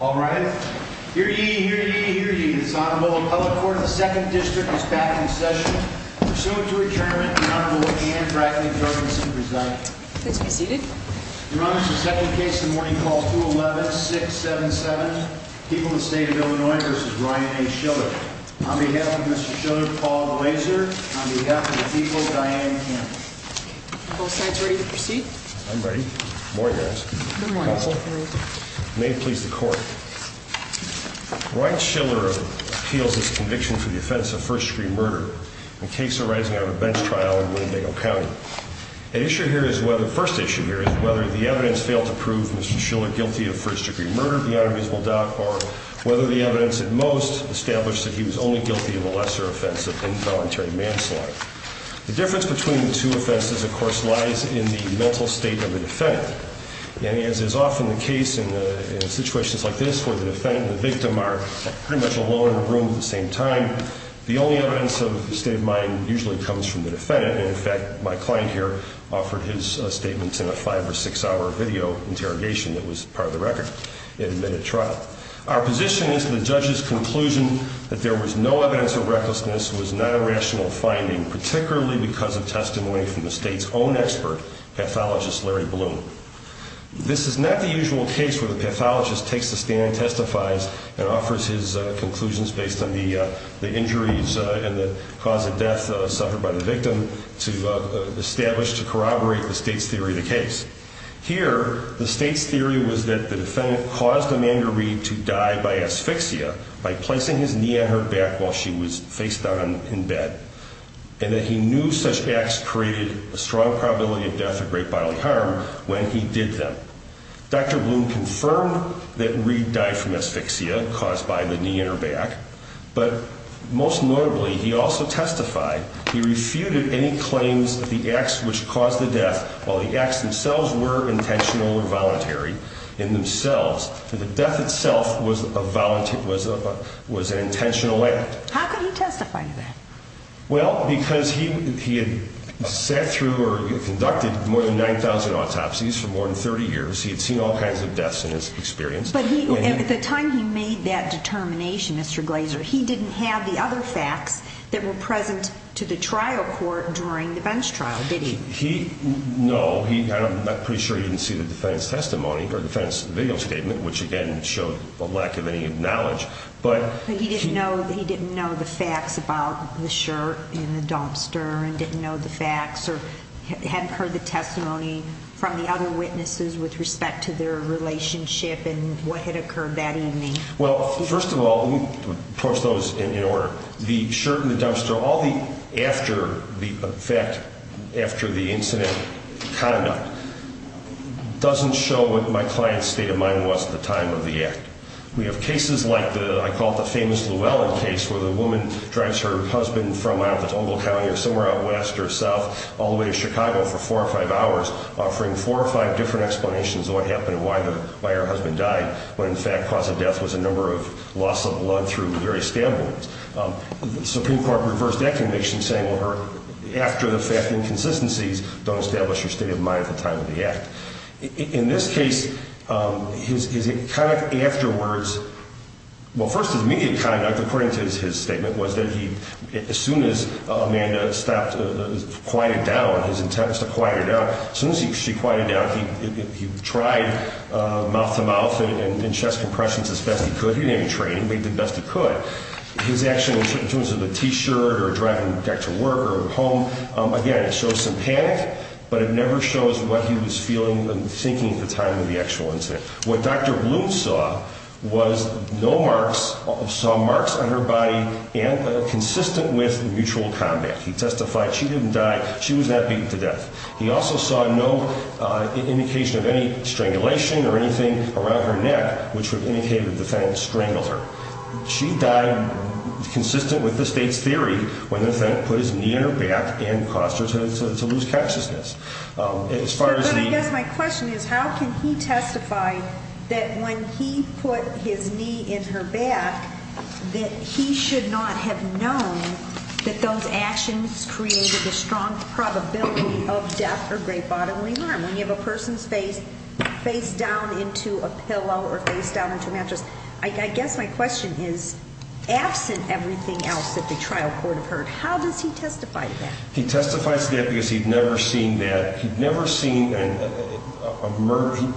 All right, here ye, here ye, here ye, this Honorable Appellate Court of the 2nd District is back in session. Pursuant to adjournment, the Honorable Anne Brackley Jorgensen presents. Please be seated. Your Honor, this is the second case in the morning called 211-677, People of the State of Illinois v. Ryan A. Schiller. On behalf of Mr. Schiller, Paul Glazer. On behalf of the people, Diane Campbell. Are both sides ready to proceed? I'm ready. Good morning, guys. Good morning. May it please the Court. Ryan Schiller appeals his conviction for the offense of first-degree murder, a case arising out of a bench trial in Winnebago County. The first issue here is whether the evidence failed to prove Mr. Schiller guilty of first-degree murder, the Honorables will doubt, or whether the evidence at most established that he was only guilty of a lesser offense of involuntary manslaughter. The difference between the two offenses, of course, lies in the mental state of the defendant. And as is often the case in situations like this, where the defendant and the victim are pretty much alone in a room at the same time, the only evidence of the state of mind usually comes from the defendant. And, in fact, my client here offered his statements in a five- or six-hour video interrogation that was part of the record. It had been at trial. Our position is that the judge's conclusion that there was no evidence of recklessness was not a rational finding, particularly because of testimony from the state's own expert, pathologist Larry Bloom. This is not the usual case where the pathologist takes a stand and testifies and offers his conclusions based on the injuries and the cause of death suffered by the victim to establish, to corroborate the state's theory of the case. Here, the state's theory was that the defendant caused Amanda Reed to die by asphyxia by placing his knee on her back while she was facedown in bed, and that he knew such acts created a strong probability of death or great bodily harm when he did them. Dr. Bloom confirmed that Reed died from asphyxia caused by the knee on her back, but most notably he also testified he refuted any claims that the acts which caused the death, while the acts themselves were intentional or voluntary in themselves, that the death itself was an intentional act. How could he testify to that? Well, because he had sat through or conducted more than 9,000 autopsies for more than 30 years. He had seen all kinds of deaths in his experience. But at the time he made that determination, Mr. Glazer, he didn't have the other facts that were present to the trial court during the bench trial, did he? No. I'm pretty sure he didn't see the defense testimony or defense video statement, which again showed a lack of any knowledge. But he didn't know the facts about the shirt and the dumpster and didn't know the facts or hadn't heard the testimony from the other witnesses with respect to their relationship and what had occurred that evening? Well, first of all, let me approach those in order. The shirt and the dumpster, all the after the fact, after the incident conduct, doesn't show what my client's state of mind was at the time of the act. We have cases like the, I call it the famous Llewellyn case, where the woman drives her husband from out of Ogle County or somewhere out west or south all the way to Chicago for four or five hours, offering four or five different explanations of what happened and why her husband died, when in fact the cause of death was a number of loss of blood through various stab wounds. The Supreme Court reversed that conviction, saying after the fact inconsistencies, don't establish your state of mind at the time of the act. In this case, his immediate conduct, according to his statement, was that as soon as Amanda quieted down, his intent was to quiet her down, as soon as she quieted down, he tried mouth to mouth and chest compressions, as best he could. He didn't have any training, but he did the best he could. His action in terms of the T-shirt or driving back to work or home, again, it shows some panic, but it never shows what he was feeling and thinking at the time of the actual incident. What Dr. Bloom saw was no marks, saw marks on her body consistent with mutual combat. He testified she didn't die. She was not beaten to death. He also saw no indication of any strangulation or anything around her neck, which would indicate that the defendant strangled her. She died consistent with the state's theory when the defendant put his knee in her back and caused her to lose consciousness. But I guess my question is how can he testify that when he put his knee in her back that he should not have known that those actions created a strong probability of death or great bodily harm? When you have a person's face face down into a pillow or face down into a mattress, I guess my question is absent everything else that the trial court have heard, how does he testify to that? He testifies to that because he'd never seen that. He'd never seen a murder.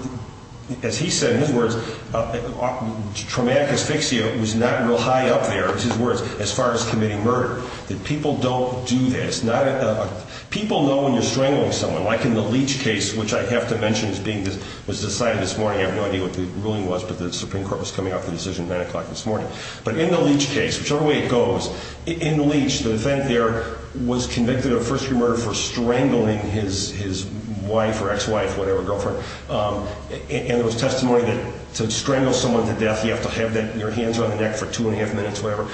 As he said in his words, traumatic asphyxia was not real high up there, it's his words, as far as committing murder, that people don't do this. People know when you're strangling someone, like in the Leach case, which I have to mention was decided this morning. I have no idea what the ruling was, but the Supreme Court was coming out with the decision at 9 o'clock this morning. But in the Leach case, whichever way it goes, in the Leach, the defendant there was convicted of first-degree murder for strangling his wife or ex-wife, whatever, girlfriend. And there was testimony that to strangle someone to death, you have to have your hands on the neck for two and a half minutes, whatever.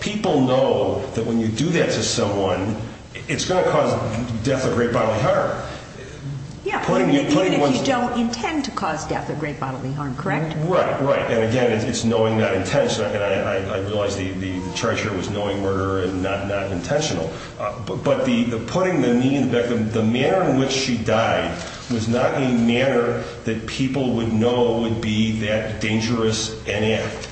People know that when you do that to someone, it's going to cause death of great bodily harm. Yeah, even if you don't intend to cause death of great bodily harm, correct? Right, right. And, again, it's knowing not intentional. And I realize the charge here was knowing murder and not intentional. But the putting the knee in the back, the manner in which she died was not a manner that people would know would be that dangerous an act.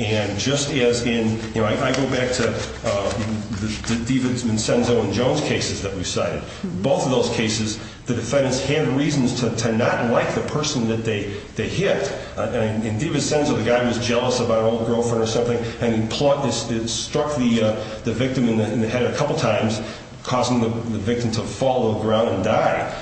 And just as in, you know, I go back to the DiVincenzo and Jones cases that we cited. Both of those cases, the defendants had reasons to not like the person that they hit. In DiVincenzo, the guy was jealous about an old girlfriend or something, and he struck the victim in the head a couple times, causing the victim to fall to the ground and die.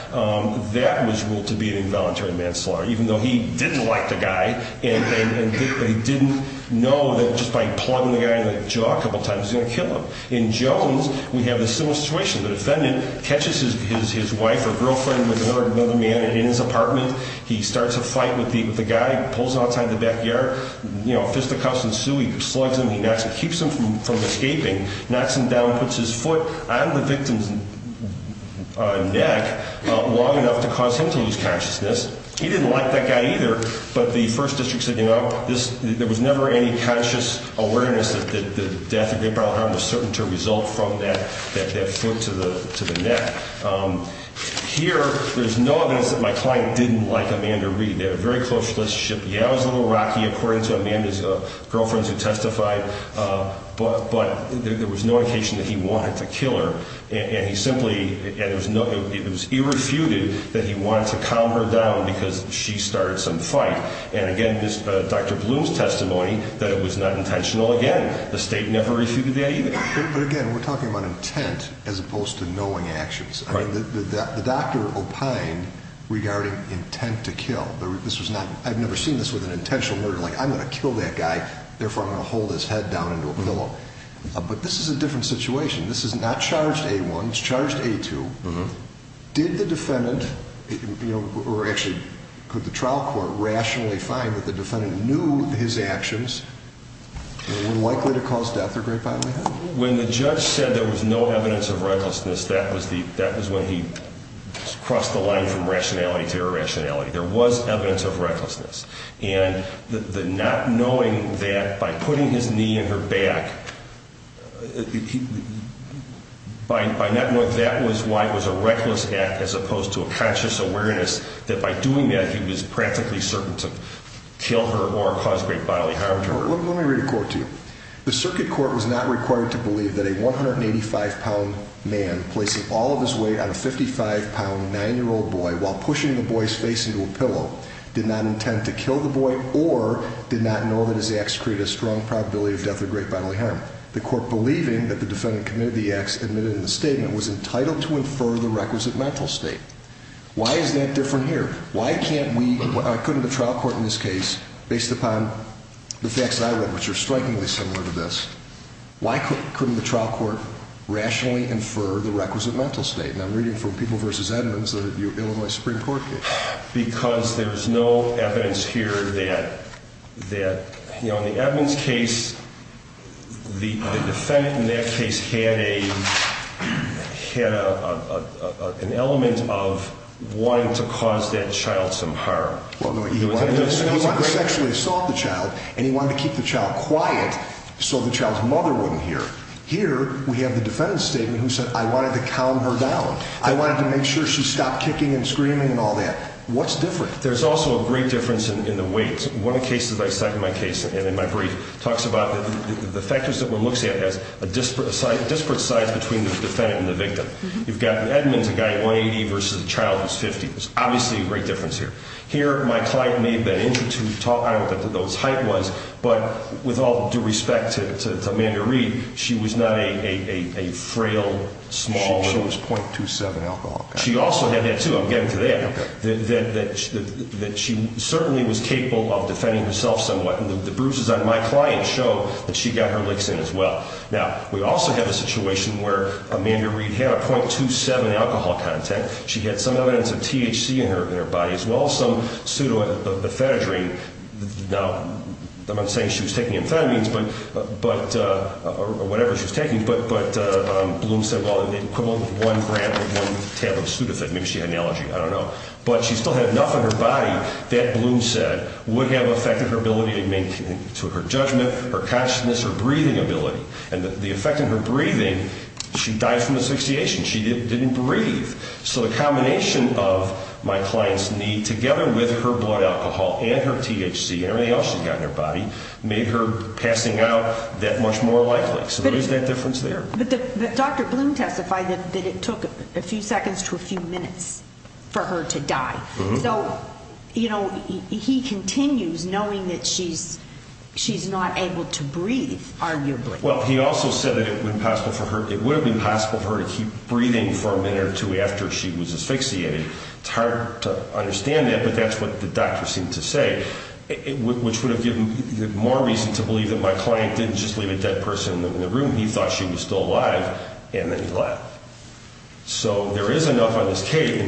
That was ruled to be an involuntary manslaughter, even though he didn't like the guy and they didn't know that just by plugging the guy in the jaw a couple times, he was going to kill him. In Jones, we have a similar situation. The defendant catches his wife or girlfriend with another man in his apartment. He starts a fight with the guy. He pulls him outside the backyard. You know, fisticuffs ensue. He slugs him. He knocks and keeps him from escaping. Knocks him down, puts his foot on the victim's neck long enough to cause him to lose consciousness. He didn't like that guy either, but the first district said, you know, there was never any conscious awareness that the death of Gabriel Harmon was certain to result from that foot to the neck. Here, there's no evidence that my client didn't like Amanda Reed. They had a very close relationship. Yeah, it was a little rocky, according to Amanda's girlfriends who testified, but there was no indication that he wanted to kill her. It was irrefuted that he wanted to calm her down because she started some fight. And again, Dr. Bloom's testimony that it was not intentional, again, the state never refuted that either. But again, we're talking about intent as opposed to knowing actions. The doctor opined regarding intent to kill. I've never seen this with an intentional murder. Like, I'm going to kill that guy, therefore I'm going to hold his head down into a pillow. But this is a different situation. This is not charged A-1. It's charged A-2. Did the defendant, or actually, could the trial court rationally find that the defendant knew his actions were likely to cause death or grapevine in the head? When the judge said there was no evidence of recklessness, that was when he crossed the line from rationality to irrationality. There was evidence of recklessness. And the not knowing that by putting his knee in her back, by not knowing that was why it was a reckless act as opposed to a conscious awareness that by doing that he was practically certain to kill her or cause great bodily harm to her. Let me read a quote to you. The circuit court was not required to believe that a 185-pound man placing all of his weight on a 55-pound 9-year-old boy while pushing the boy's face into a pillow did not intend to kill the boy or did not know that his acts created a strong probability of death or great bodily harm. The court believing that the defendant committed the acts admitted in the statement was entitled to infer the requisite mental state. Why is that different here? Why couldn't the trial court in this case, based upon the facts I read, which are strikingly similar to this, why couldn't the trial court rationally infer the requisite mental state? And I'm reading from People v. Edmonds, the Illinois Supreme Court case. Because there's no evidence here that, you know, in the Edmonds case, the defendant in that case had an element of wanting to cause that child some harm. He wanted to sexually assault the child and he wanted to keep the child quiet so the child's mother wouldn't hear. Here, we have the defendant's statement who said, I wanted to calm her down. I wanted to make sure she stopped kicking and screaming and all that. What's different? There's also a great difference in the weight. One of the cases I cite in my case and in my brief talks about the factors that one looks at as a disparate size between the defendant and the victim. You've got Edmonds, a guy at 180 versus a child who's 50. There's obviously a great difference here. Here, my client may have been able to talk out what those height was, but with all due respect to Amanda Reed, she was not a frail, small. She was .27 alcohol content. She also had that, too. I'm getting to that. Okay. That she certainly was capable of defending herself somewhat. And the bruises on my client show that she got her licks in as well. Now, we also have a situation where Amanda Reed had a .27 alcohol content. She had some evidence of THC in her body as well as some pseudoamphetamines. Now, I'm not saying she was taking amphetamines or whatever she was taking, but Bloom said, well, the equivalent of one gram or one tab of pseudoamphetamine. Maybe she had an allergy. I don't know. But she still had enough in her body that Bloom said would have affected her ability to make her judgment, her consciousness, her breathing ability. And the effect on her breathing, she died from asphyxiation. She didn't breathe. So the combination of my client's need, together with her blood alcohol and her THC and everything else she's got in her body, made her passing out that much more likely. So there's that difference there. But Dr. Bloom testified that it took a few seconds to a few minutes for her to die. So, you know, he continues knowing that she's not able to breathe, arguably. Well, he also said that it would have been possible for her to keep breathing for a minute or two after she was asphyxiated. It's hard to understand that, but that's what the doctor seemed to say, which would have given more reason to believe that my client didn't just leave a dead person in the room. He thought she was still alive, and then he left. So there is enough in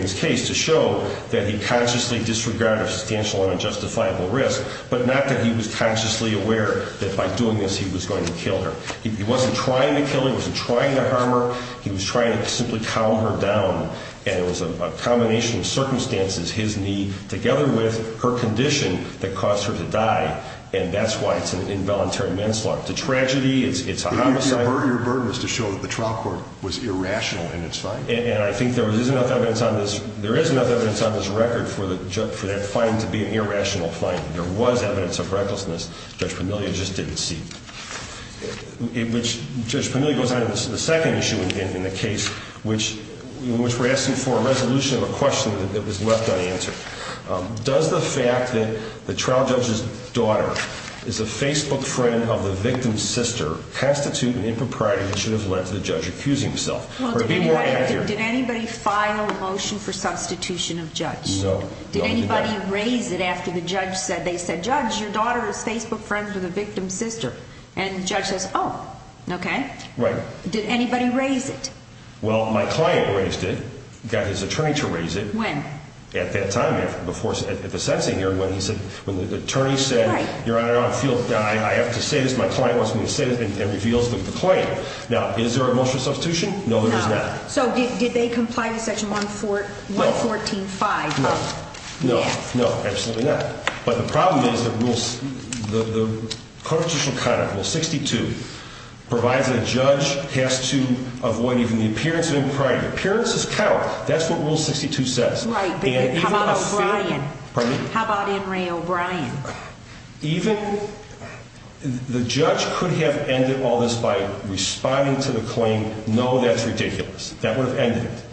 this case to show that he consciously disregarded a substantial and unjustifiable risk, but not that he was consciously aware that by doing this he was going to kill her. He wasn't trying to kill her. He wasn't trying to harm her. He was trying to simply calm her down. And it was a combination of circumstances, his need, together with her condition, that caused her to die. And that's why it's an involuntary manslaughter. It's a tragedy. It's a homicide. Your burden is to show that the trial court was irrational in its finding. And I think there is enough evidence on this record for that finding to be an irrational finding. There was evidence of recklessness. Judge Pamelia just didn't see it. Judge Pamelia goes on to the second issue in the case, which we're asking for a resolution of a question that was left unanswered. Does the fact that the trial judge's daughter is a Facebook friend of the victim's sister constitute an impropriety that should have led to the judge accusing himself? Did anybody file a motion for substitution of judge? No. Did anybody raise it after the judge said, they said, judge, your daughter is Facebook friends with the victim's sister? And the judge says, oh, okay. Right. Did anybody raise it? Well, my client raised it, got his attorney to raise it. When? At that time, at the sentencing hearing, when the attorney said, your Honor, I have to say this. My client wants me to say this, and reveals the claim. Now, is there a motion for substitution? No, there is not. So did they comply with section 114.5? No. No. No. Absolutely not. But the problem is that the constitutional conduct, rule 62, provides that a judge has to avoid even the appearance of impropriety. Appearances count. That's what rule 62 says. Right. But how about O'Brien? Pardon me? How about N. Ray O'Brien? Even the judge could have ended all this by responding to the claim, no, that's ridiculous. That would have ended it.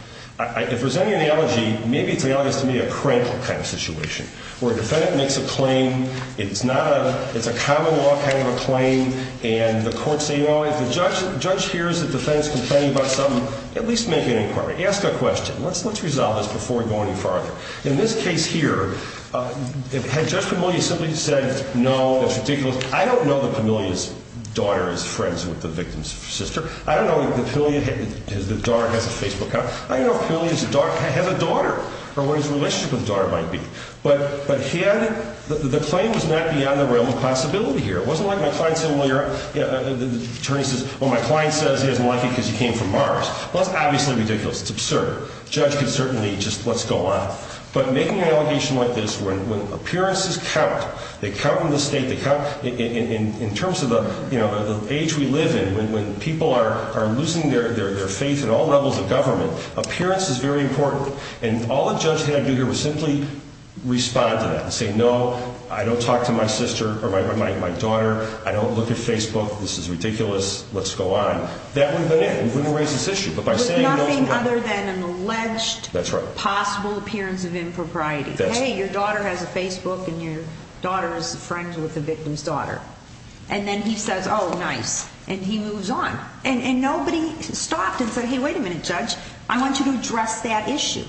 If there's any analogy, maybe it's the analogous to me, a crank kind of situation, where a defendant makes a claim, it's not a, it's a common law kind of a claim, and the court's saying, oh, if the judge hears that the defendant's complaining about something, at least make an inquiry. Ask a question. Let's resolve this before we go any farther. In this case here, had Judge Pamelia simply said, no, that's ridiculous, I don't know that Pamelia's daughter is friends with the victim's sister. I don't know if Pamelia's daughter has a Facebook account. I don't know if Pamelia's daughter has a daughter, or what his relationship with the daughter might be. But the claim was not beyond the realm of possibility here. It wasn't like my client said, well, your attorney says, well, my client says he doesn't like you because you came from Mars. Well, that's obviously ridiculous. It's absurd. The judge could certainly just, let's go on. But making an allegation like this, when appearances count, they count in the state, they count in terms of the age we live in. When people are losing their faith in all levels of government, appearance is very important. And all a judge had to do here was simply respond to that and say, no, I don't talk to my sister or my daughter. I don't look at Facebook. This is ridiculous. Let's go on. That would have been it. We wouldn't have raised this issue. But by saying no to them. With nothing other than an alleged possible appearance of impropriety. Hey, your daughter has a Facebook and your daughter is friends with the victim's daughter. And then he says, oh, nice. And he moves on. And nobody stopped and said, hey, wait a minute, judge. I want you to address that issue.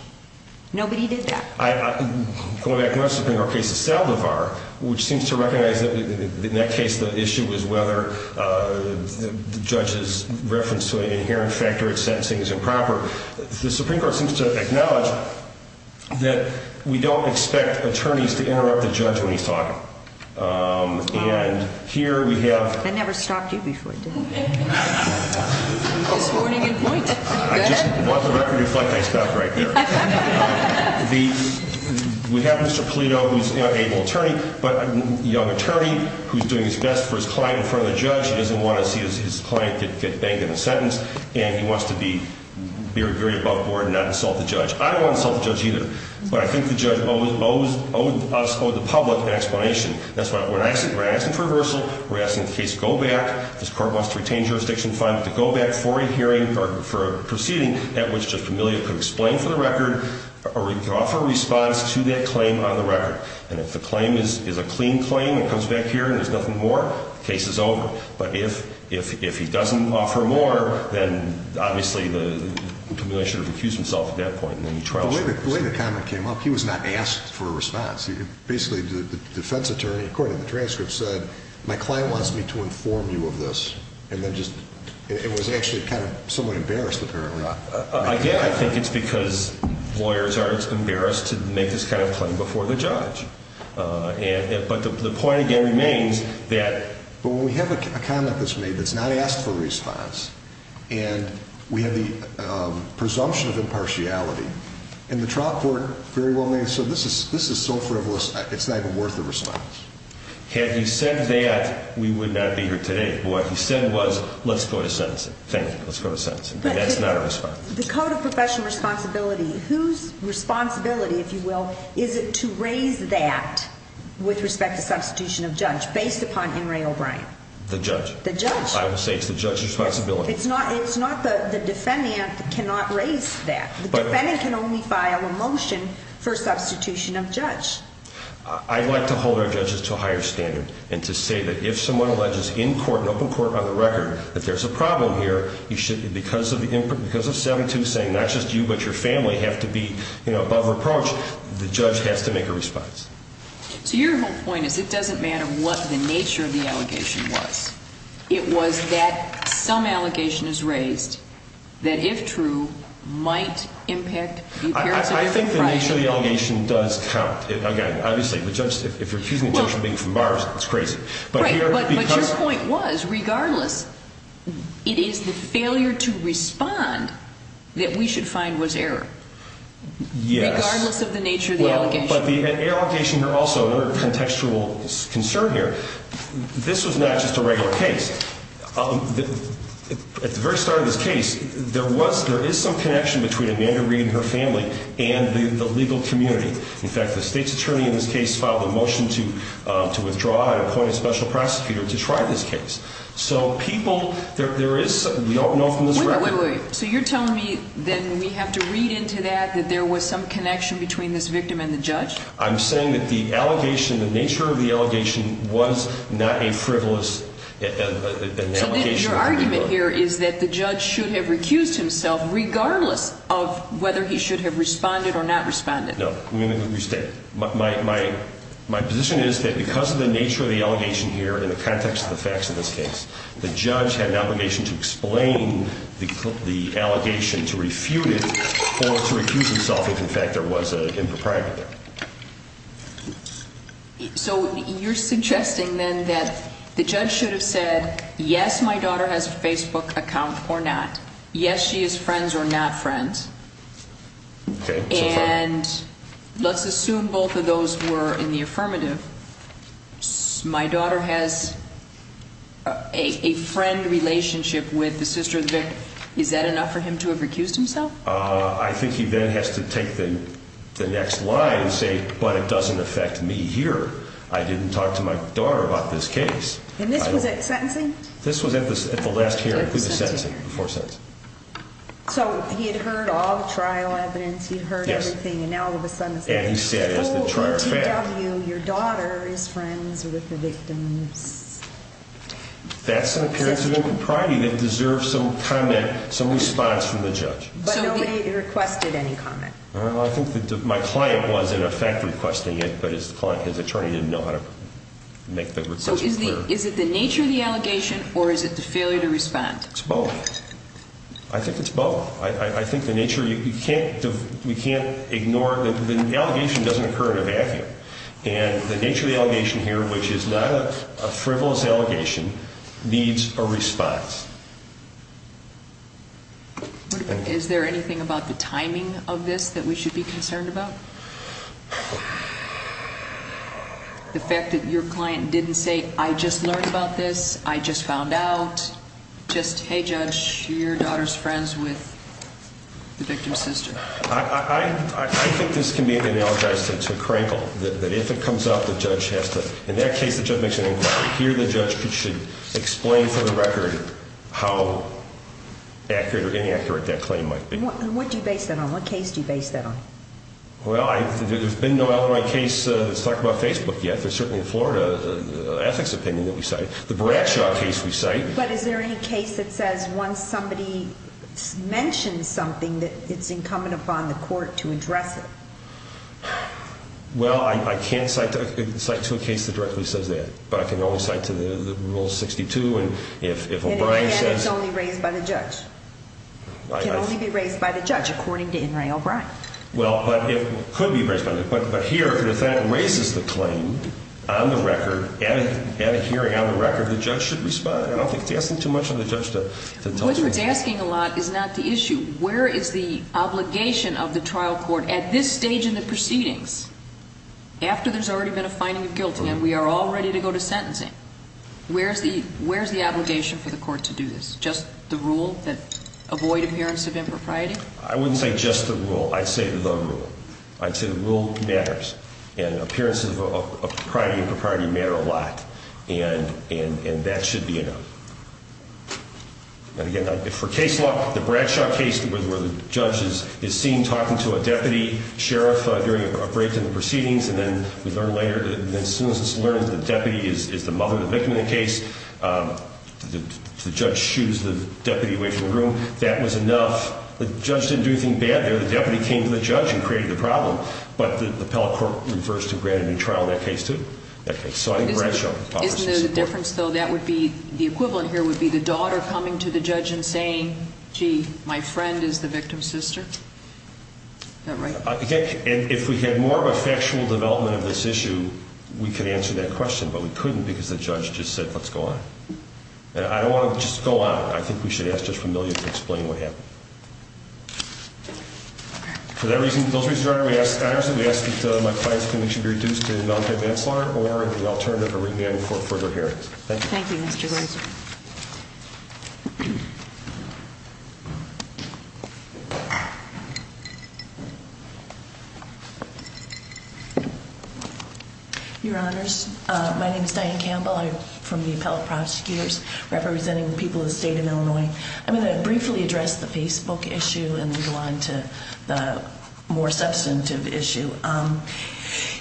Nobody did that. Going back to my Supreme Court case of Saldivar, which seems to recognize that in that case the issue was whether the judge's reference to an inherent factor in sentencing is improper. The Supreme Court seems to acknowledge that we don't expect attorneys to interrupt the judge when he's talking. And here we have. I never stopped you before, did I? This morning in point. I just bought the record reflect I stopped right there. We have Mr. Polito, who's an able attorney, but a young attorney who's doing his best for his client in front of the judge. He doesn't want to see his client get banged in a sentence. And he wants to be very above board and not insult the judge. I don't want to insult the judge either. But I think the judge owes us or the public an explanation. That's what we're asking. We're asking for reversal. We're asking the case to go back. This court wants to retain jurisdiction. Finally, to go back for a hearing or for a proceeding at which the familial could explain for the record or offer a response to that claim on the record. And if the claim is a clean claim, it comes back here and there's nothing more. The case is over. But if he doesn't offer more, then obviously the familial should have accused himself at that point. The way the comment came up, he was not asked for a response. Basically, the defense attorney, according to the transcript, said, my client wants me to inform you of this. And then just, it was actually kind of somewhat embarrassed, apparently. Again, I think it's because lawyers are embarrassed to make this kind of claim before the judge. But the point again remains that. But when we have a comment that's made that's not asked for a response, and we have the presumption of impartiality, and the trial court very willingly said, this is so frivolous, it's not even worth a response. Had he said that, we would not be here today. But what he said was, let's go to sentencing. Thank you. Let's go to sentencing. And that's not a response. The Code of Professional Responsibility, whose responsibility, if you will, is it to raise that with respect to substitution of judge based upon Emory O'Brien? The judge. The judge. I would say it's the judge's responsibility. It's not the defendant that cannot raise that. The defendant can only file a motion for substitution of judge. I'd like to hold our judges to a higher standard and to say that if someone alleges in court and open court on the record that there's a problem here, because of 7-2 saying not just you but your family have to be above reproach, the judge has to make a response. So your whole point is it doesn't matter what the nature of the allegation was. It was that some allegation is raised that, if true, might impact the appearance of the defendant. I think the nature of the allegation does count. Again, obviously, if you're accusing a judge of being from Barra, it's crazy. Right, but your point was, regardless, it is the failure to respond that we should find was error. Yes. Regardless of the nature of the allegation. But the allegation here also, another contextual concern here, this was not just a regular case. At the very start of this case, there is some connection between Amanda Reed and her family and the legal community. In fact, the state's attorney in this case filed a motion to withdraw. I appointed a special prosecutor to try this case. So people, there is, we don't know from this record. Wait, wait, wait. So you're telling me then we have to read into that that there was some connection between this victim and the judge? I'm saying that the allegation, the nature of the allegation was not a frivolous allegation. So your argument here is that the judge should have recused himself regardless of whether he should have responded or not responded. No. My position is that because of the nature of the allegation here in the context of the facts of this case, the judge had an obligation to explain the allegation to refute it or to recuse himself if, in fact, there was an impropriety. So you're suggesting then that the judge should have said, yes, my daughter has a Facebook account or not. Yes, she is friends or not friends. And let's assume both of those were in the affirmative. My daughter has a friend relationship with the sister of the victim. Is that enough for him to have recused himself? I think he then has to take the next line and say, but it doesn't affect me here. I didn't talk to my daughter about this case. And this was at sentencing? This was at the last hearing, before sentencing. So he had heard all the trial evidence. He had heard everything. Yes. And he said as the trier of fact. So in T.W., your daughter is friends with the victim's sister? That's an appearance of impropriety that deserves some comment, some response from the judge. But nobody requested any comment? Well, I think my client was, in effect, requesting it, but his attorney didn't know how to make the request. So is it the nature of the allegation or is it the failure to respond? It's both. I think it's both. I think the nature, you can't ignore, the allegation doesn't occur in a vacuum. And the nature of the allegation here, which is not a frivolous allegation, needs a response. Is there anything about the timing of this that we should be concerned about? The fact that your client didn't say, I just learned about this, I just found out. Just, hey, judge, your daughter's friends with the victim's sister. I think this can be analogized to a crankle, that if it comes up, the judge has to, in that case, the judge makes an inquiry. Here the judge should explain for the record how accurate or inaccurate that claim might be. And what do you base that on? What case do you base that on? Well, there's been no outright case that's talked about Facebook yet. There's certainly a Florida ethics opinion that we cite, the Bradshaw case we cite. But is there any case that says once somebody mentions something, that it's incumbent upon the court to address it? Well, I can't cite to a case that directly says that. But I can only cite to the Rule 62, and if O'Brien says... And again, it's only raised by the judge. It can only be raised by the judge, according to In re O'Brien. Well, but it could be raised by the judge. But here, if the defendant raises the claim on the record, at a hearing on the record, the judge should respond. I don't think it's asking too much of the judge to tell... What it's asking a lot is not the issue. Where is the obligation of the trial court at this stage in the proceedings, after there's already been a finding of guilt, and we are all ready to go to sentencing? Where's the obligation for the court to do this? Just the rule that avoid appearance of impropriety? I wouldn't say just the rule. I'd say the rule. I'd say the rule matters. And appearances of impropriety matter a lot. And that should be enough. And again, for case law, the Bradshaw case, where the judge is seen talking to a deputy sheriff during a break in the proceedings, and then we learn later that as soon as it's learned that the deputy is the mother of the victim in the case, the judge shoots the deputy away from the room. That was enough. The judge didn't do anything bad there. The deputy came to the judge and created the problem. But the appellate court refers to granted in trial in that case too. Isn't there a difference, though, that would be the equivalent here would be the daughter coming to the judge and saying, gee, my friend is the victim's sister? Is that right? And if we had more of a factual development of this issue, we could answer that question. But we couldn't because the judge just said, let's go on. I don't want to just go on. I think we should ask just for a million to explain what happened. For that reason, those reasons, Your Honor, we ask that my client's conviction be reduced to non-cap manslaughter or the alternative of remand for further hearings. Thank you. Thank you, Mr. Grazer. Your Honors, my name is Diane Campbell. I'm from the appellate prosecutors representing the people of the state of Illinois. I'm going to briefly address the Facebook issue and move on to the more substantive issue.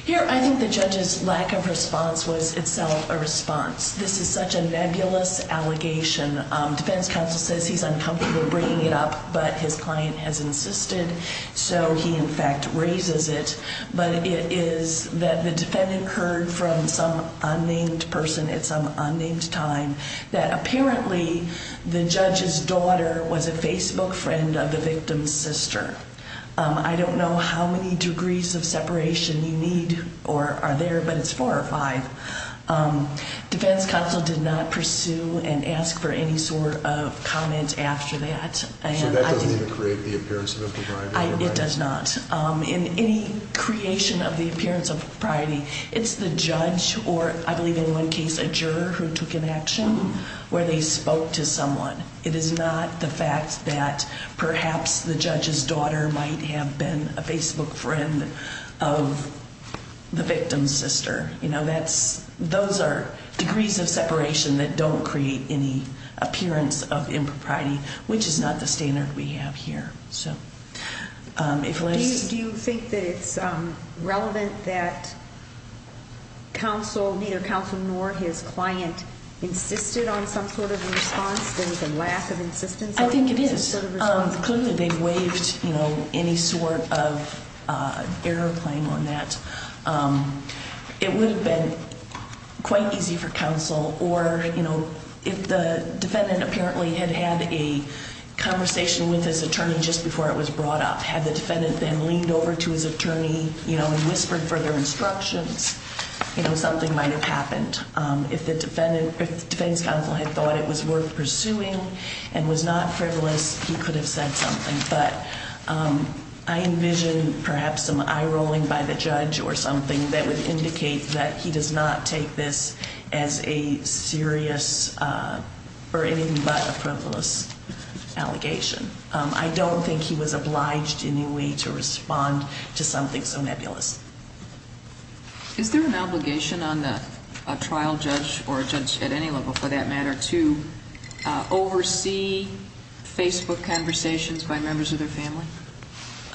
Here I think the judge's lack of response was itself a response. This is such a nebulous allegation. Defense counsel says he's uncomfortable bringing it up, but his client has insisted, so he in fact raises it. But it is that the defendant heard from some unnamed person at some unnamed time that apparently the judge's daughter was a Facebook friend of the victim's sister. I don't know how many degrees of separation you need or are there, but it's four or five. Defense counsel did not pursue and ask for any sort of comment after that. So that doesn't even create the appearance of a provider? It does not. In any creation of the appearance of propriety, it's the judge or, I believe in one case, a juror who took an action where they spoke to someone. It is not the fact that perhaps the judge's daughter might have been a Facebook friend of the victim's sister. Those are degrees of separation that don't create any appearance of impropriety, which is not the standard we have here. Do you think that it's relevant that counsel, neither counsel nor his client, insisted on some sort of a response? There was a lack of insistence? I think it is. Clearly they've waived any sort of error claim on that. It would have been quite easy for counsel or if the defendant apparently had had a conversation with his attorney just before it was brought up, had the defendant then leaned over to his attorney and whispered further instructions, something might have happened. If the defense counsel had thought it was worth pursuing and was not frivolous, he could have said something. But I envision perhaps some eye-rolling by the judge or something that would indicate that he does not take this as a serious or anything but a frivolous allegation. I don't think he was obliged in any way to respond to something so nebulous. Is there an obligation on a trial judge or a judge at any level for that matter to oversee Facebook conversations by members of their family?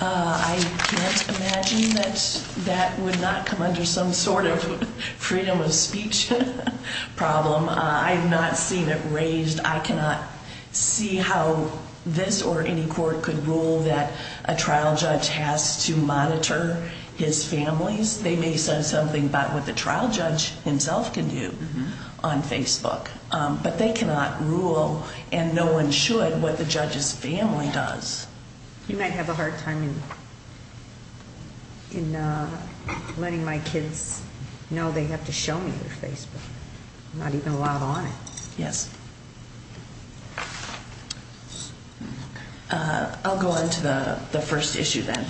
I can't imagine that that would not come under some sort of freedom of speech problem. I have not seen it raised. I cannot see how this or any court could rule that a trial judge has to monitor his family. They may say something about what the trial judge himself can do on Facebook. But they cannot rule, and no one should, what the judge's family does. You might have a hard time in letting my kids know they have to show me their Facebook. I'm not even allowed on it. Yes. I'll go on to the first issue then.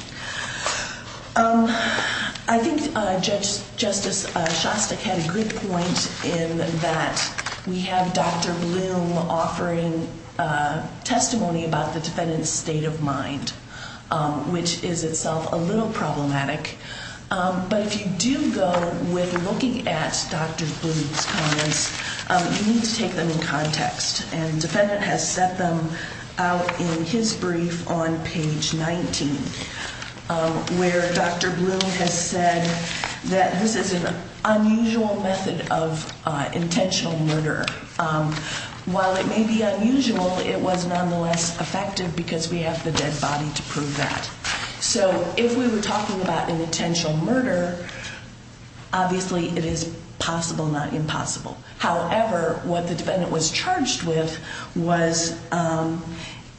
I think Judge Justice Shostak had a good point in that we have Dr. Bloom offering testimony about the defendant's state of mind, which is itself a little problematic. But if you do go with looking at Dr. Bloom's comments, you need to take them in context. And the defendant has set them out in his brief on page 19, where Dr. Bloom has said that this is an unusual method of intentional murder. While it may be unusual, it was nonetheless effective because we have the dead body to prove that. So if we were talking about an intentional murder, obviously it is possible, not impossible. However, what the defendant was charged with was,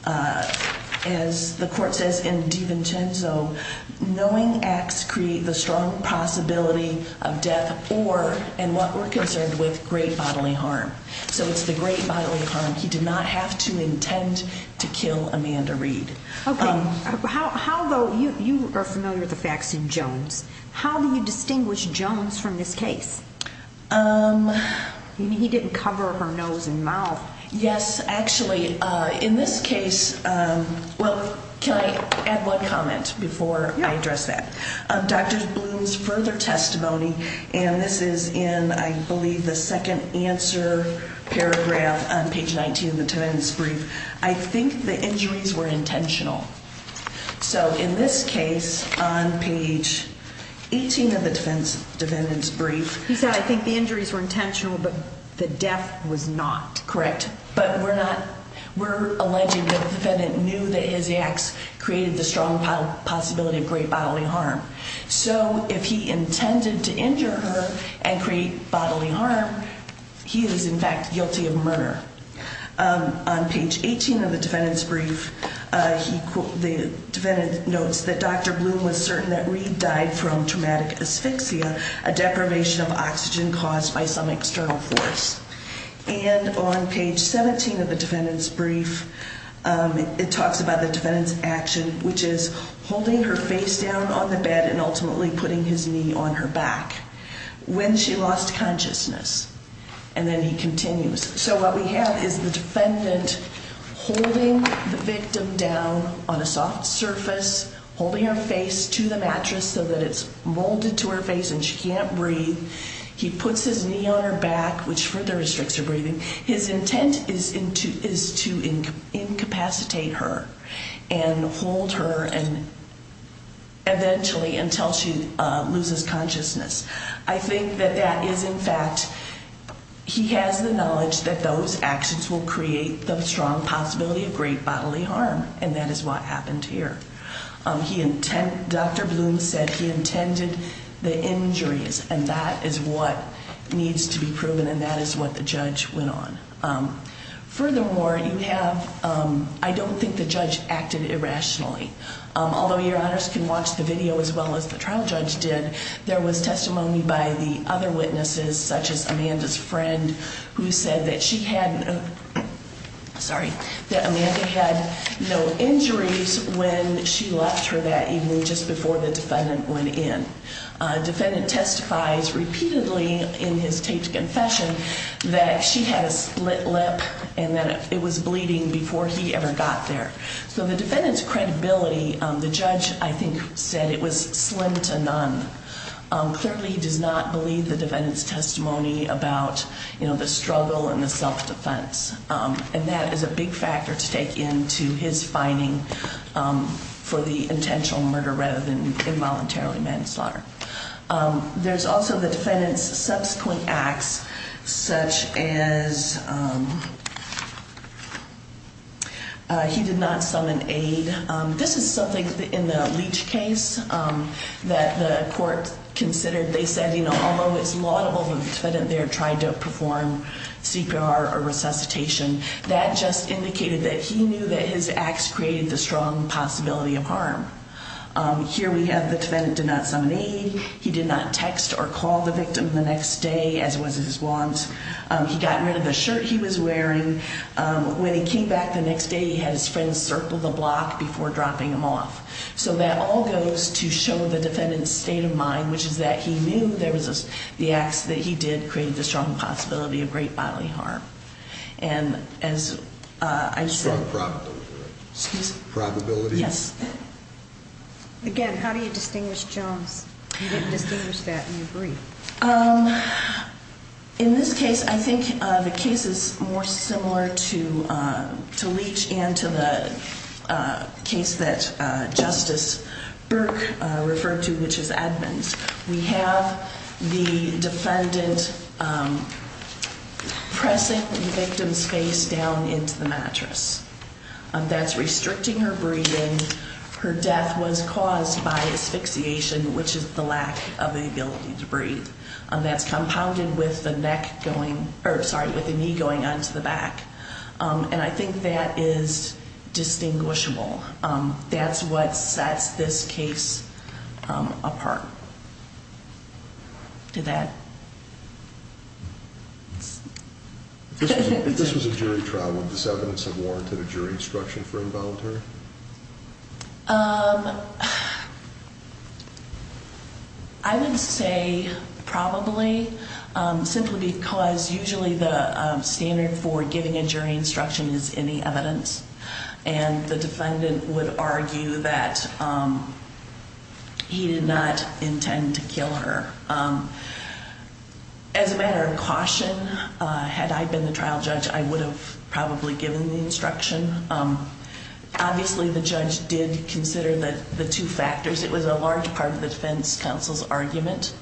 as the court says in DiVincenzo, knowing acts create the strong possibility of death or, and what we're concerned with, great bodily harm. So it's the great bodily harm. He did not have to intend to kill Amanda Reed. Okay. You are familiar with the facts in Jones. How do you distinguish Jones from this case? He didn't cover her nose and mouth. Yes, actually. In this case, well, can I add one comment before I address that? Dr. Bloom's further testimony, and this is in, I believe, the second answer paragraph on page 19 of the defendant's brief. I think the injuries were intentional. So in this case, on page 18 of the defendant's brief. He said, I think the injuries were intentional, but the death was not. Correct. But we're alleging that the defendant knew that his acts created the strong possibility of great bodily harm. So if he intended to injure her and create bodily harm, he is, in fact, guilty of murder. On page 18 of the defendant's brief, the defendant notes that Dr. Bloom was certain that Reed died from traumatic asphyxia, a deprivation of oxygen caused by some external force. And on page 17 of the defendant's brief, it talks about the defendant's action, which is holding her face down on the bed and ultimately putting his knee on her back when she lost consciousness. And then he continues. So what we have is the defendant holding the victim down on a soft surface, holding her face to the mattress so that it's molded to her face and she can't breathe. He puts his knee on her back, which further restricts her breathing. His intent is to incapacitate her and hold her eventually until she loses consciousness. I think that that is, in fact, he has the knowledge that those actions will create the strong possibility of great bodily harm, and that is what happened here. Dr. Bloom said he intended the injuries, and that is what needs to be proven, and that is what the judge went on. Furthermore, I don't think the judge acted irrationally. Although your honors can watch the video as well as the trial judge did, there was testimony by the other witnesses, such as Amanda's friend, who said that she had no injuries when she left her that evening just before the defendant went in. The defendant testifies repeatedly in his taped confession that she had a split lip and that it was bleeding before he ever got there. So the defendant's credibility, the judge, I think, said it was slim to none. Clearly, he does not believe the defendant's testimony about the struggle and the self-defense, and that is a big factor to take into his finding for the intentional murder rather than involuntarily manslaughter. There's also the defendant's subsequent acts, such as he did not summon aid. This is something in the Leach case that the court considered. They said, you know, although it's laudable that the defendant there tried to perform CPR or resuscitation, that just indicated that he knew that his acts created the strong possibility of harm. Here we have the defendant did not summon aid. He did not text or call the victim the next day, as was his want. He got rid of the shirt he was wearing. When he came back the next day, he had his friends circle the block before dropping him off. So that all goes to show the defendant's state of mind, which is that he knew there was the acts that he did created the strong possibility of great bodily harm. And as I said- Strong probability, right? Excuse me? Probability? Yes. Again, how do you distinguish Jones? You didn't distinguish that, and you agree. In this case, I think the case is more similar to Leach and to the case that Justice Burke referred to, which is Edmonds. We have the defendant pressing the victim's face down into the mattress. That's restricting her breathing. Her death was caused by asphyxiation, which is the lack of the ability to breathe. That's compounded with the knee going onto the back. And I think that is distinguishable. That's what sets this case apart. Did that? If this was a jury trial, would this evidence have warranted a jury instruction for involuntary? I would say probably, simply because usually the standard for giving a jury instruction is any evidence. And the defendant would argue that he did not intend to kill her. As a matter of caution, had I been the trial judge, I would have probably given the instruction. Obviously, the judge did consider the two factors. It was a large part of the defense counsel's argument.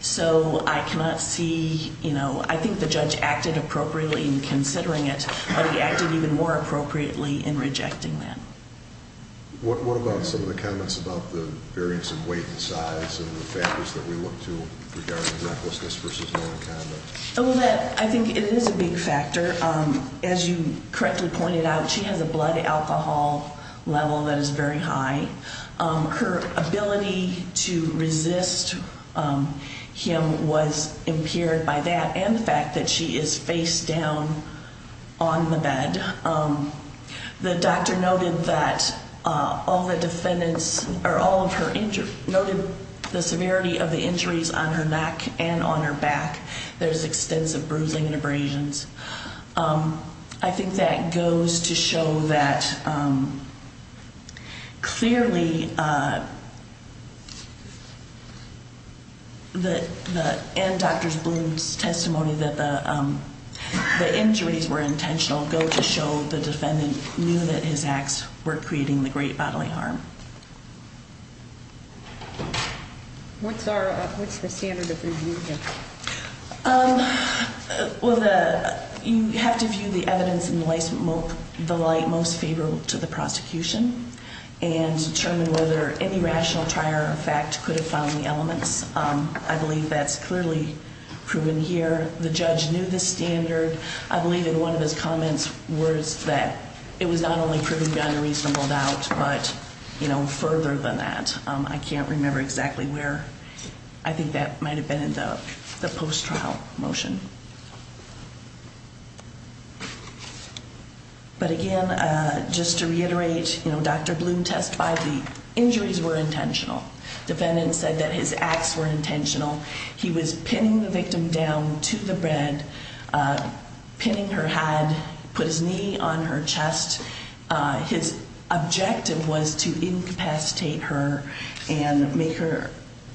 So I cannot see, you know, I think the judge acted appropriately in considering it, but he acted even more appropriately in rejecting that. What about some of the comments about the variance in weight and size and the factors that we look to regarding recklessness versus known conduct? I think it is a big factor. As you correctly pointed out, she has a blood alcohol level that is very high. Her ability to resist him was impaired by that and the fact that she is face down on the bed. The doctor noted that all the defendants, or all of her injuries, noted the severity of the injuries on her neck and on her back. There's extensive bruising and abrasions. I think that goes to show that clearly, and Dr. Bloom's testimony that the injuries were intentional go to show the defendant knew that his acts were creating the great bodily harm. What's the standard of rebuke? Well, you have to view the evidence in the light most favorable to the prosecution and determine whether any rational trier of fact could have found the elements. I believe that's clearly proven here. The judge knew the standard. I believe that one of his comments was that it was not only proven beyond a reasonable doubt, but, you know, further than that. I can't remember exactly where. I think that might have been in the post-trial motion. But again, just to reiterate, Dr. Bloom testified the injuries were intentional. The defendant said that his acts were intentional. He was pinning the victim down to the bed, pinning her head, put his knee on her chest. His objective was to incapacitate her and make her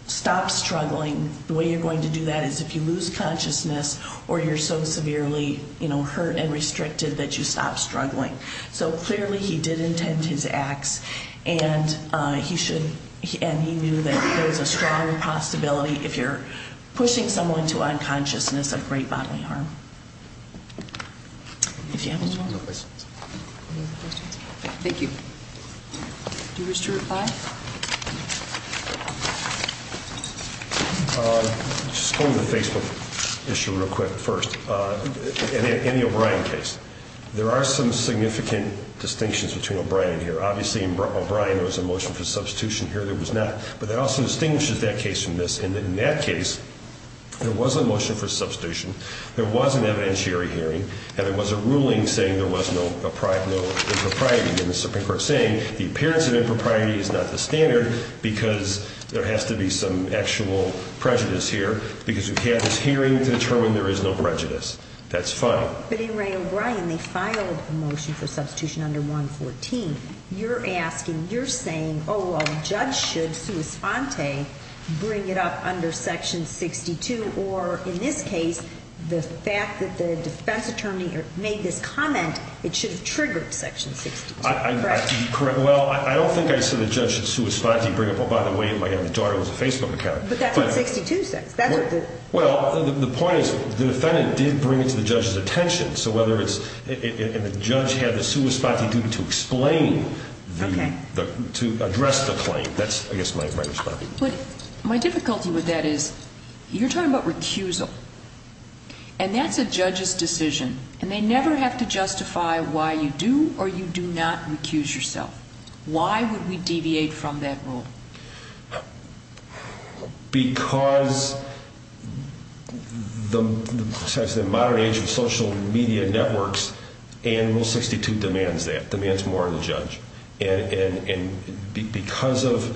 stop struggling. The way you're going to do that is if you lose consciousness or you're so severely hurt and restricted that you stop struggling. So clearly he did intend his acts, and he knew that there's a stronger possibility if you're pushing someone to unconsciousness of great bodily harm. If you have any more questions. Thank you. Do you wish to reply? Just going to the Facebook issue real quick first. In the O'Brien case, there are some significant distinctions between O'Brien here. Obviously, in O'Brien there was a motion for substitution here. There was not. But that also distinguishes that case from this. In that case, there was a motion for substitution. There was an evidentiary hearing, and there was a ruling saying there was no impropriety. And the Supreme Court is saying the appearance of impropriety is not the standard because there has to be some actual prejudice here because we've had this hearing to determine there is no prejudice. That's fine. But in Ray O'Brien, they filed a motion for substitution under 114. You're asking, you're saying, oh, well, the judge should sua sponte bring it up under section 62 or, in this case, the fact that the defense attorney made this comment, it should have triggered section 62. Correct? Well, I don't think I said the judge should sua sponte bring it up. Oh, by the way, my daughter has a Facebook account. But that's on 62 sex. Well, the point is the defendant did bring it to the judge's attention, and the judge had the sua sponte duty to explain, to address the claim. That's, I guess, my response. But my difficulty with that is you're talking about recusal, and that's a judge's decision, and they never have to justify why you do or you do not recuse yourself. Why would we deviate from that rule? Because the modern age of social media networks and Rule 62 demands that, demands more of the judge. And because of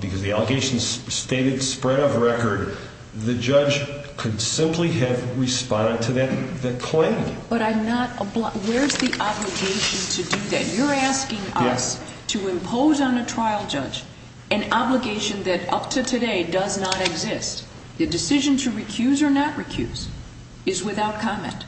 the allegations stated spread of record, the judge could simply have responded to that claim. But I'm not, where's the obligation to do that? You're asking us to impose on a trial judge an obligation that up to today does not exist. The decision to recuse or not recuse is without comment.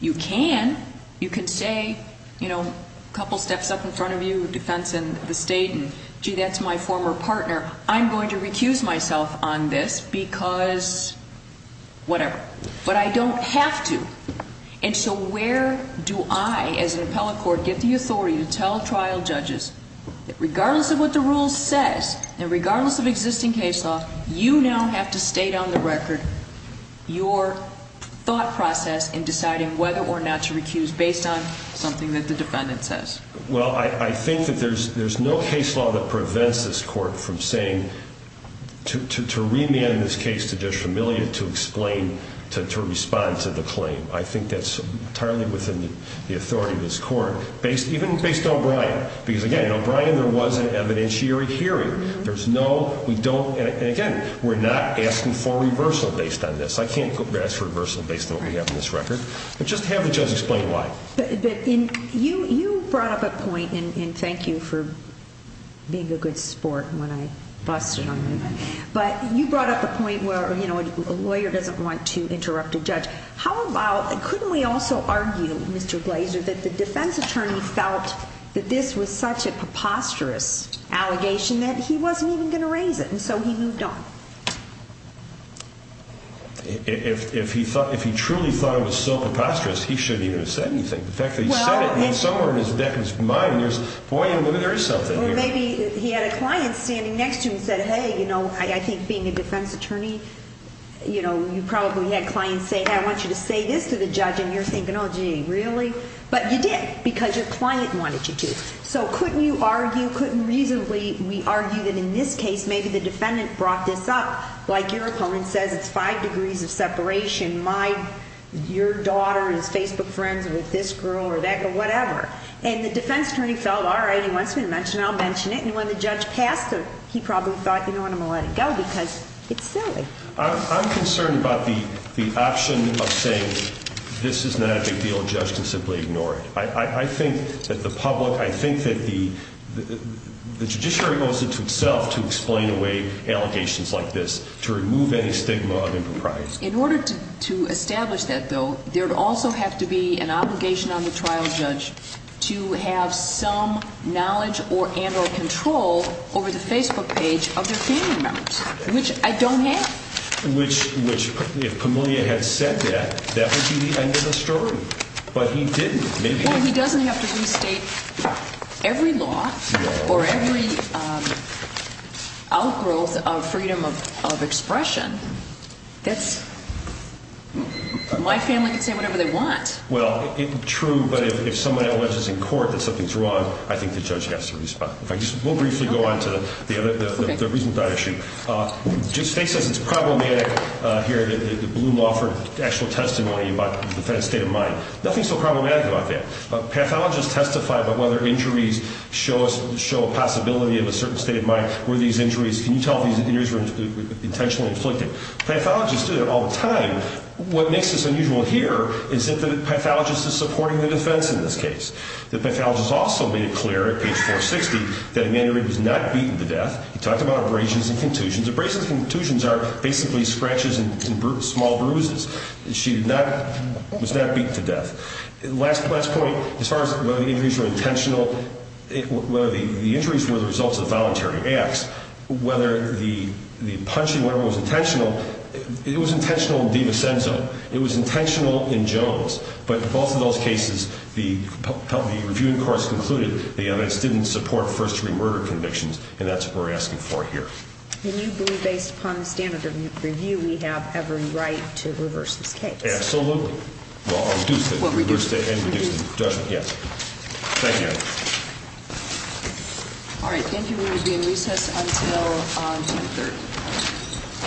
You can. You can say, you know, a couple steps up in front of you, defense in the state, and, gee, that's my former partner. I'm going to recuse myself on this because whatever. But I don't have to. And so where do I, as an appellate court, get the authority to tell trial judges that regardless of what the rule says and regardless of existing case law, you now have to state on the record your thought process in deciding whether or not to recuse based on something that the defendant says? Well, I think that there's no case law that prevents this court from saying to remand this case to Judge Familia to explain, to respond to the claim. I think that's entirely within the authority of this court, even based on O'Brien. Because, again, O'Brien, there was an evidentiary hearing. There's no, we don't, and again, we're not asking for reversal based on this. I can't ask for reversal based on what we have in this record. But just have the judge explain why. But you brought up a point, and thank you for being a good sport when I busted on that. But you brought up a point where, you know, a lawyer doesn't want to interrupt a judge. How about, couldn't we also argue, Mr. Glazer, that the defense attorney felt that this was such a preposterous allegation that he wasn't even going to raise it? And so he moved on. If he truly thought it was so preposterous, he shouldn't even have said anything. The fact that he said it, and somewhere in his mind, there's, boy, there is something here. Or maybe he had a client standing next to him and said, hey, you know, I think being a defense attorney, you know, you probably had clients say, I want you to say this to the judge. And you're thinking, oh, gee, really? But you did, because your client wanted you to. So couldn't you argue, couldn't reasonably we argue that in this case maybe the defendant brought this up? Like your opponent says, it's five degrees of separation. My, your daughter is Facebook friends with this girl or that girl, whatever. And the defense attorney felt, all right, he wants me to mention it, I'll mention it. And when the judge passed it, he probably thought, you know what, I'm going to let it go, because it's silly. I'm concerned about the option of saying this is not a big deal, a judge can simply ignore it. I think that the public, I think that the judiciary owes it to itself to explain away allegations like this to remove any stigma of impropriety. In order to establish that, though, there would also have to be an obligation on the trial judge to have some knowledge and or control over the Facebook page of their family members, which I don't have. Which, if Pamelia had said that, that would be the end of the story. But he didn't. Well, he doesn't have to restate every law or every outgrowth of freedom of expression. That's, my family can say whatever they want. Well, true, but if somebody alleges in court that something's wrong, I think the judge has to respond. We'll briefly go on to the reason for that issue. Judge Fink says it's problematic here, the blue law, for actual testimony about the defense state of mind. Nothing so problematic about that. Pathologists testify about whether injuries show a possibility of a certain state of mind. Were these injuries, can you tell if these injuries were intentionally inflicted? Pathologists do that all the time. What makes this unusual here is that the pathologist is supporting the defense in this case. The pathologist also made it clear at page 460 that Emanuely was not beaten to death. He talked about abrasions and contusions. Abrasions and contusions are basically scratches and small bruises. She was not beaten to death. Last point, as far as whether the injuries were intentional, whether the injuries were the results of voluntary acts, whether the punching was intentional, it was intentional in DiVincenzo. It was intentional in Jones. But in both of those cases, the reviewing courts concluded the evidence didn't support first-degree murder convictions, and that's what we're asking for here. And you believe, based upon the standard of review, we have every right to reverse this case? Absolutely. Well, or reduce it. Reduce it. Reduce it. Yes. Thank you. All right. Thank you for reviewing. Recess until 10-30.